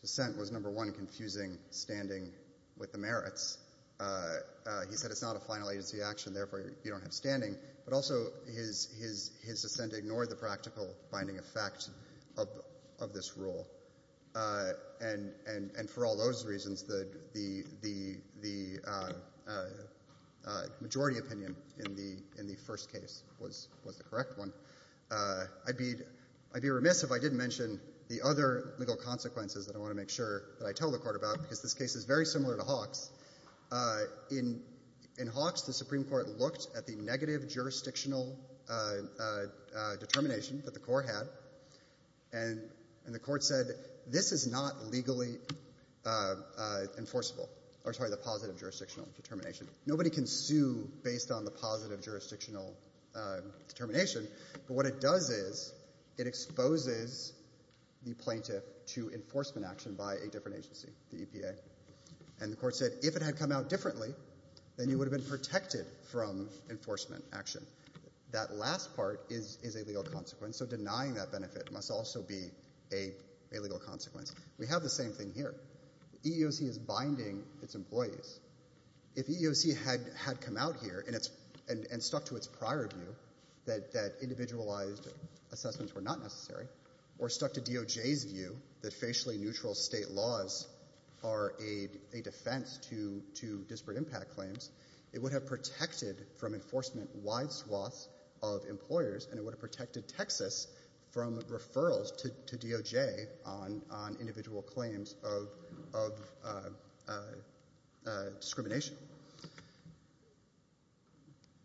dissent was, number one, confusing standing with the merits. He said it's not a final agency action, therefore you don't have standing. But also, his, his, his dissent ignored the practical binding effect of, of this rule. And, and, and for all those reasons, the, the, the, the majority opinion in the, in the first case was, was the correct one. I'd be, I'd be remiss if I didn't mention the other legal consequences that I want to make sure that I tell the Court about, because this case is very similar to Hawks. In, in Hawks, the Supreme Court looked at the negative jurisdictional determination that the Court had, and, and the Court said, this is not legally enforceable, or sorry, the positive jurisdictional determination. Nobody can sue based on the positive jurisdictional determination, but what it does is, it exposes the plaintiff to enforcement action by a different agency, the EPA. And the Court said, if it had come out differently, then you would have been protected from enforcement action. That last part is, is a legal consequence, so denying that benefit must also be a, a legal consequence. We have the same thing here. EEOC is binding its employees. If EEOC had, had come out here and it's, and, and stuck to its prior view that, that individualized assessments were not necessary, or stuck to DOJ's view that facially neutral state laws are a, a defense to, to disparate impact claims, it would have protected from enforcement wide swaths of employers, and it would have protected Texas from referrals to, to DOJ on, on individual claims of, of discrimination.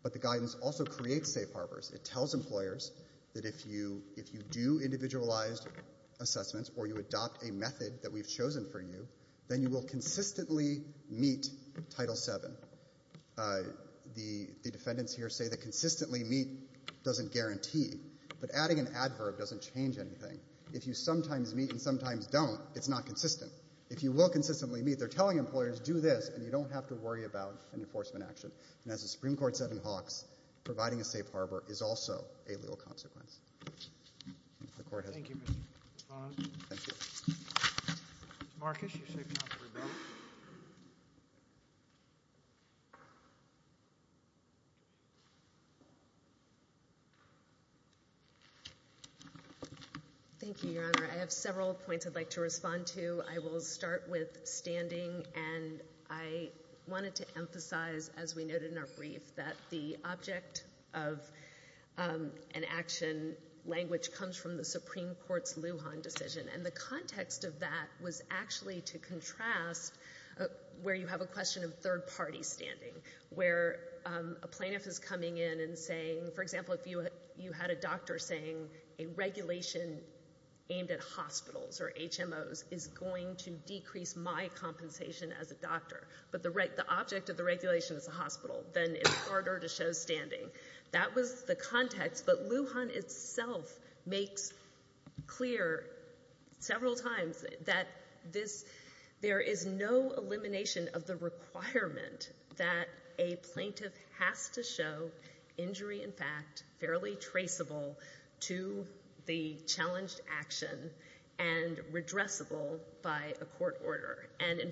But the guidance also creates safe harbors. It tells employers that if you, if you do individualized assessments, or you adopt a method that we've chosen for you, then you will consistently meet Title VII. The, the defendants here say that consistently meet doesn't guarantee, but adding an adverb doesn't change anything. If you sometimes meet and sometimes don't, it's not consistent. If you will consistently meet, they're telling employers, do this, and you don't have to worry about an enforcement action. And as the Supreme Court said in Hawks, providing a safe harbor is also a legal consequence. The Court has... Thank you, Your Honor. I have several points I'd like to respond to. I will start with standing, and I wanted to emphasize, as we noted in our brief, that the object of an action language comes from the Supreme Court's Lujan decision, and the context of that was actually to contrast where you have a question of third-party standing, where a plaintiff is coming in and saying, for example, if you, you had a doctor saying a regulation aimed at hospitals or HMOs is going to decrease my compensation as a doctor, but the right, the object of the regulation is a hospital, then it's harder to show standing. That was the context, but Lujan itself makes clear several times that this, there is no elimination of the requirement that a plaintiff has to show injury in fact, fairly traceable to the challenged action, and redressable by a court order. And in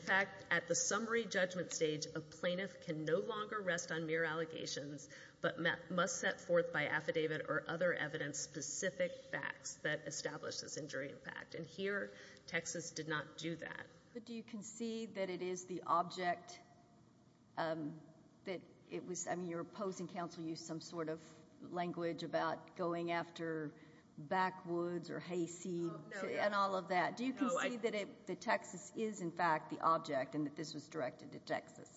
the summary judgment stage, a plaintiff can no longer rest on mere allegations, but must set forth by affidavit or other evidence specific facts that establish this injury in fact, and here, Texas did not do that. But do you concede that it is the object that it was, I mean, your opposing counsel used some sort of language about going after backwoods or hayseed and all of that. Do you concede that it, that Texas is in fact the object and that this was directed to Texas?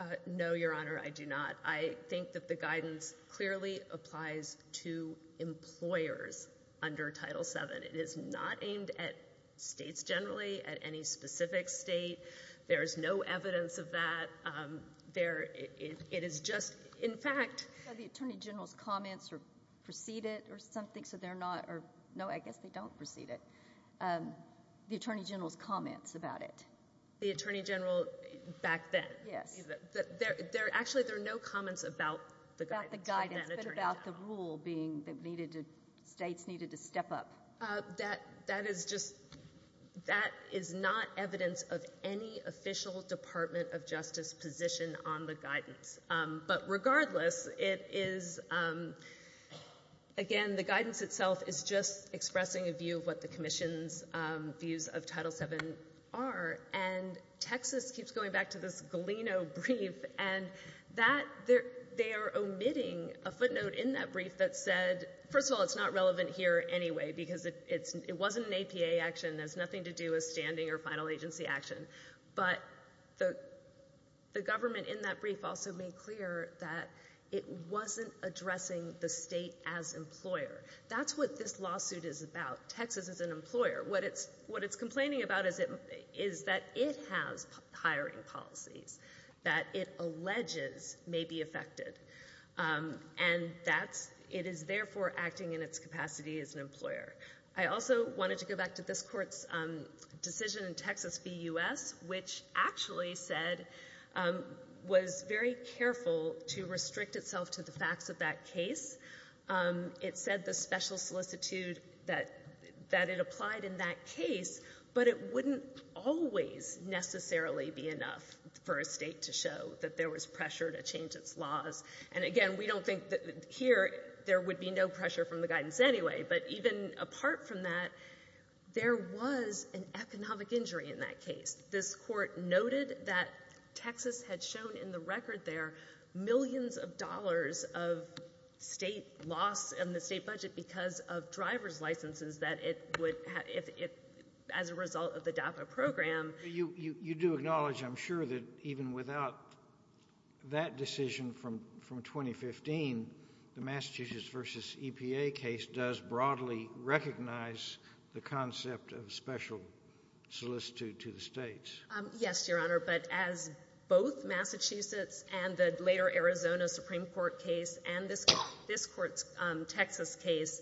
Uh, no, Your Honor, I do not. I think that the guidance clearly applies to employers under Title VII. It is not aimed at states generally, at any specific state. There is no evidence of that. Um, there, it, it is just, in fact. The Attorney General's comments are so they're not, or no, I guess they don't precede it. Um, the Attorney General's comments about it. The Attorney General back then. Yes. There, there, actually there are no comments about the guidance. About the guidance, but about the rule being that needed to, states needed to step up. Uh, that, that is just, that is not evidence of any official Department of Justice position on the guidance. Um, but regardless, it is, um, again, the guidance itself is just expressing a view of what the Commission's, um, views of Title VII are. And Texas keeps going back to this Galeno brief and that, they're, they're omitting a footnote in that brief that said, first of all, it's not relevant here anyway because it, it's, it wasn't an APA action. There's nothing to do with standing or final agency action. But the, the government in that brief also made clear that it wasn't addressing the state as employer. That's what this lawsuit is about. Texas is an employer. What it's, what it's complaining about is it, is that it has hiring policies that it alleges may be affected. Um, and that's, it is therefore acting in its capacity as an employer. I also wanted to go back to this Court's, um, decision in Texas v. U.S. which actually said, um, was very careful to restrict itself to the facts of that case. Um, it said the special solicitude that, that it applied in that case, but it wouldn't always necessarily be enough for a state to show that there was pressure to change its laws. And again, we don't think that here there would be pressure from the guidance anyway, but even apart from that, there was an economic injury in that case. This Court noted that Texas had shown in the record there millions of dollars of state loss in the state budget because of driver's licenses that it would have, if, if as a result of the DAPA program. You, you, you do acknowledge, I'm sure, that even without that decision from, from 2015, the Massachusetts v. EPA case does broadly recognize the concept of special solicitude to the states. Um, yes, Your Honor, but as both Massachusetts and the later Arizona Supreme Court case and this, this Court's, um, Texas case,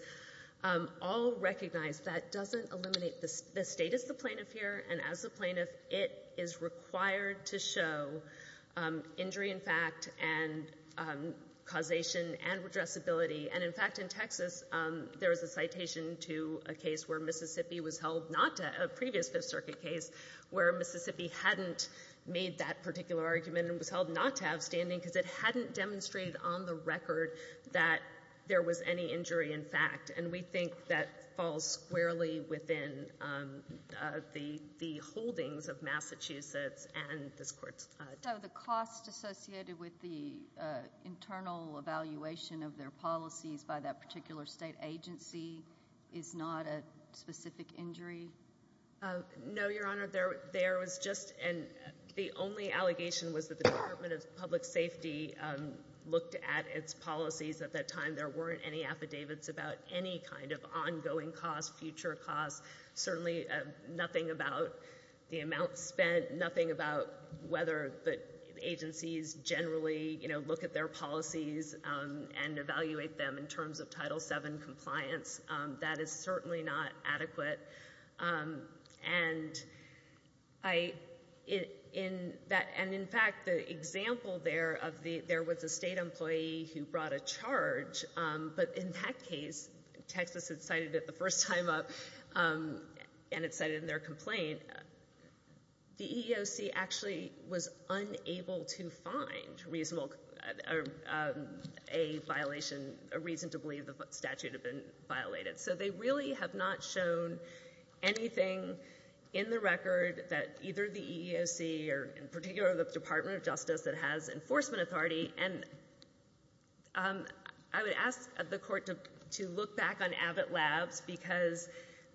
um, all recognize that doesn't eliminate the, the state as the plaintiff here and as the plaintiff, it is required to show, um, injury in fact and, um, causation and redressability. And in fact, in Texas, um, there is a citation to a case where Mississippi was held not to, a previous Fifth Circuit case where Mississippi hadn't made that particular argument and was held not to have standing because it hadn't demonstrated on the record that there was any injury in fact. And we think that falls squarely within, um, uh, the, the holdings of Massachusetts and this Court's, uh, case. So the cost associated with the, uh, internal evaluation of their policies by that particular state agency is not a specific injury? Uh, no, Your Honor. There, there was just an, the only allegation was that the Department of Public Safety, um, looked at its policies at that time. There weren't any affidavits about any kind of ongoing costs, future costs, certainly, uh, nothing about the amount spent, nothing about whether the agencies generally, you know, look at their policies, um, and evaluate them in terms of Title VII compliance. Um, that is certainly not adequate. Um, and I, in, in that, and in fact, the example there of the, there was a state employee who brought a charge, um, but in that case, Texas had cited it the first time up, um, and it said in their complaint, the EEOC actually was unable to find reasonable, uh, um, a violation, a reason to believe the statute had been violated. So they really have not shown anything in the record that either the EEOC or in particular the Department of Justice that has enforcement authority and, um, I would ask the court to, to look back on Abbott Labs because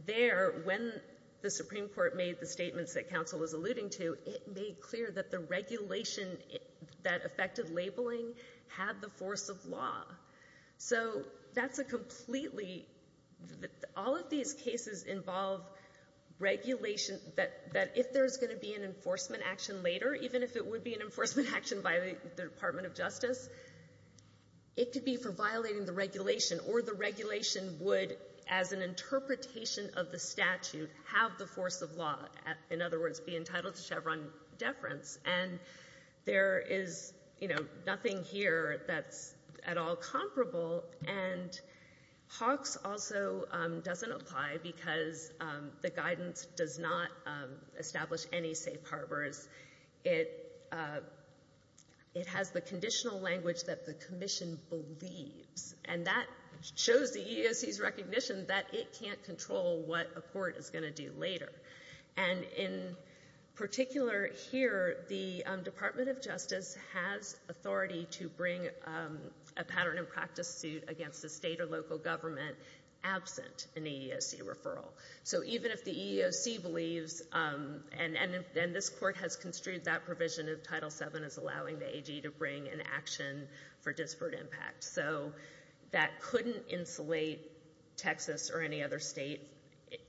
there, when the Supreme Court made the statements that counsel was alluding to, it made clear that the regulation that affected labeling had the force of law. So that's a completely, all of these cases involve regulation that, that if there's going to be an enforcement action later, even if it would be an enforcement action by the Department of Justice, it could be for violating the regulation or the regulation would, as an interpretation of the statute, have the force of law, in other words, be entitled to Chevron deference. And there is, you know, nothing here that's at all comparable and Hawks also, um, doesn't apply because, um, the guidance does not, um, establish any safe harbors. It, uh, it has the conditional language that the commission believes and that shows the EEOC's recognition that it can't control what a court is going to do later. And in particular here, the, um, Department of Justice has authority to bring, um, a pattern and practice suit against the state or local government absent an EEOC referral. So even if the EEOC believes, um, and, and, and this court has construed that provision of Title VII as allowing the AG to bring an action for disparate impact. So that couldn't insulate Texas or any other state,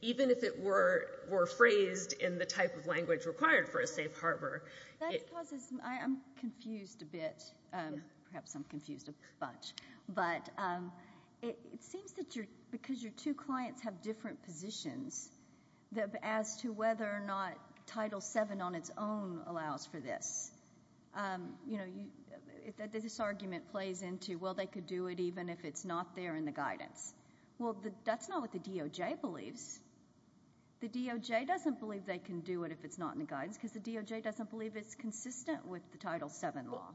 even if it were, were phrased in the type of language required for a safe harbor. That causes, I, I'm confused a bit, um, perhaps I'm confused a bunch, but, um, it, it seems that because your two clients have different positions as to whether or not Title VII on its own allows for this, um, you know, you, this argument plays into, well, they could do it even if it's not there in the guidance. Well, the, that's not what the DOJ believes. The DOJ doesn't believe they can do it if it's not in the guidance because the DOJ doesn't believe it's consistent with the Title VII law.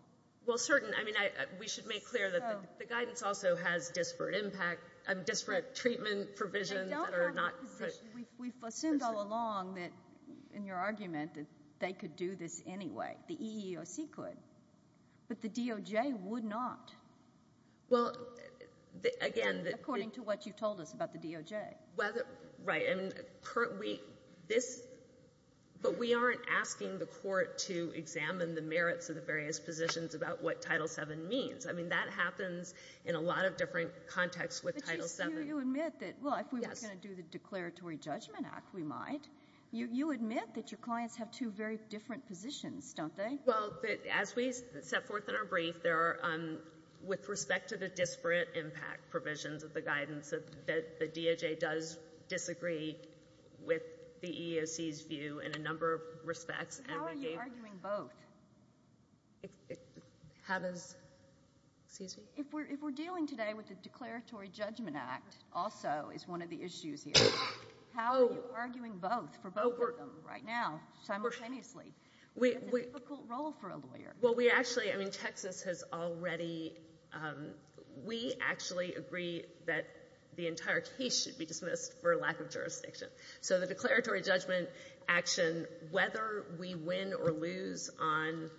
Well, certain, I mean, I, we should make clear that the guidance also has disparate impact, um, disparate treatment provisions that are not. We've, we've assumed all along that in your argument that they could do this anyway, the EEOC could, but the DOJ would not. Well, again. According to what you told us about the DOJ. Whether, right, I mean, we, this, but we aren't asking the court to examine the merits of the various positions about what Title VII means. I mean, that happens in a lot of different contexts with Title VII. But you, you admit that, well, if we were going to do the Declaratory Judgment Act, we might. You, you admit that your clients have two very different positions, don't they? Well, as we set forth in our brief, there are, um, with respect to the disparate impact provisions of the guidance, that the DOJ does disagree with the EEOC's view in a number of respects. How are you arguing both? It, it, how does, excuse me? If we're, if we're dealing today with the Declaratory Judgment Act also is one of the issues here. How are you arguing both, for both of them right now, simultaneously? We, we. That's a difficult role for a lawyer. Well, we actually, I mean, Texas has already, um, we actually agree that the entire case should be dismissed for lack of jurisdiction. So the Declaratory Judgment Action, whether we win or lose on,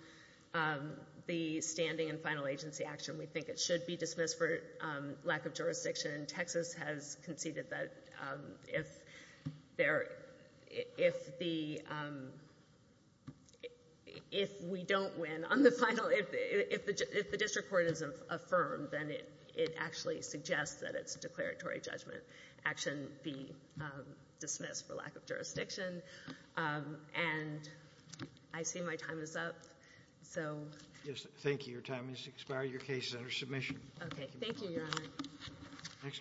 um, the standing and final agency action, we think it should be dismissed for, um, lack of jurisdiction. Texas has conceded that, um, if there, if the, um, if we don't win on the final, if, if the, if the District Court then it, it actually suggests that its Declaratory Judgment Action be, um, dismissed for lack of jurisdiction. Um, and I see my time is up. So. Yes. Thank you. Your time has expired. Your case is under submission. Okay. Thank you, Your Honor.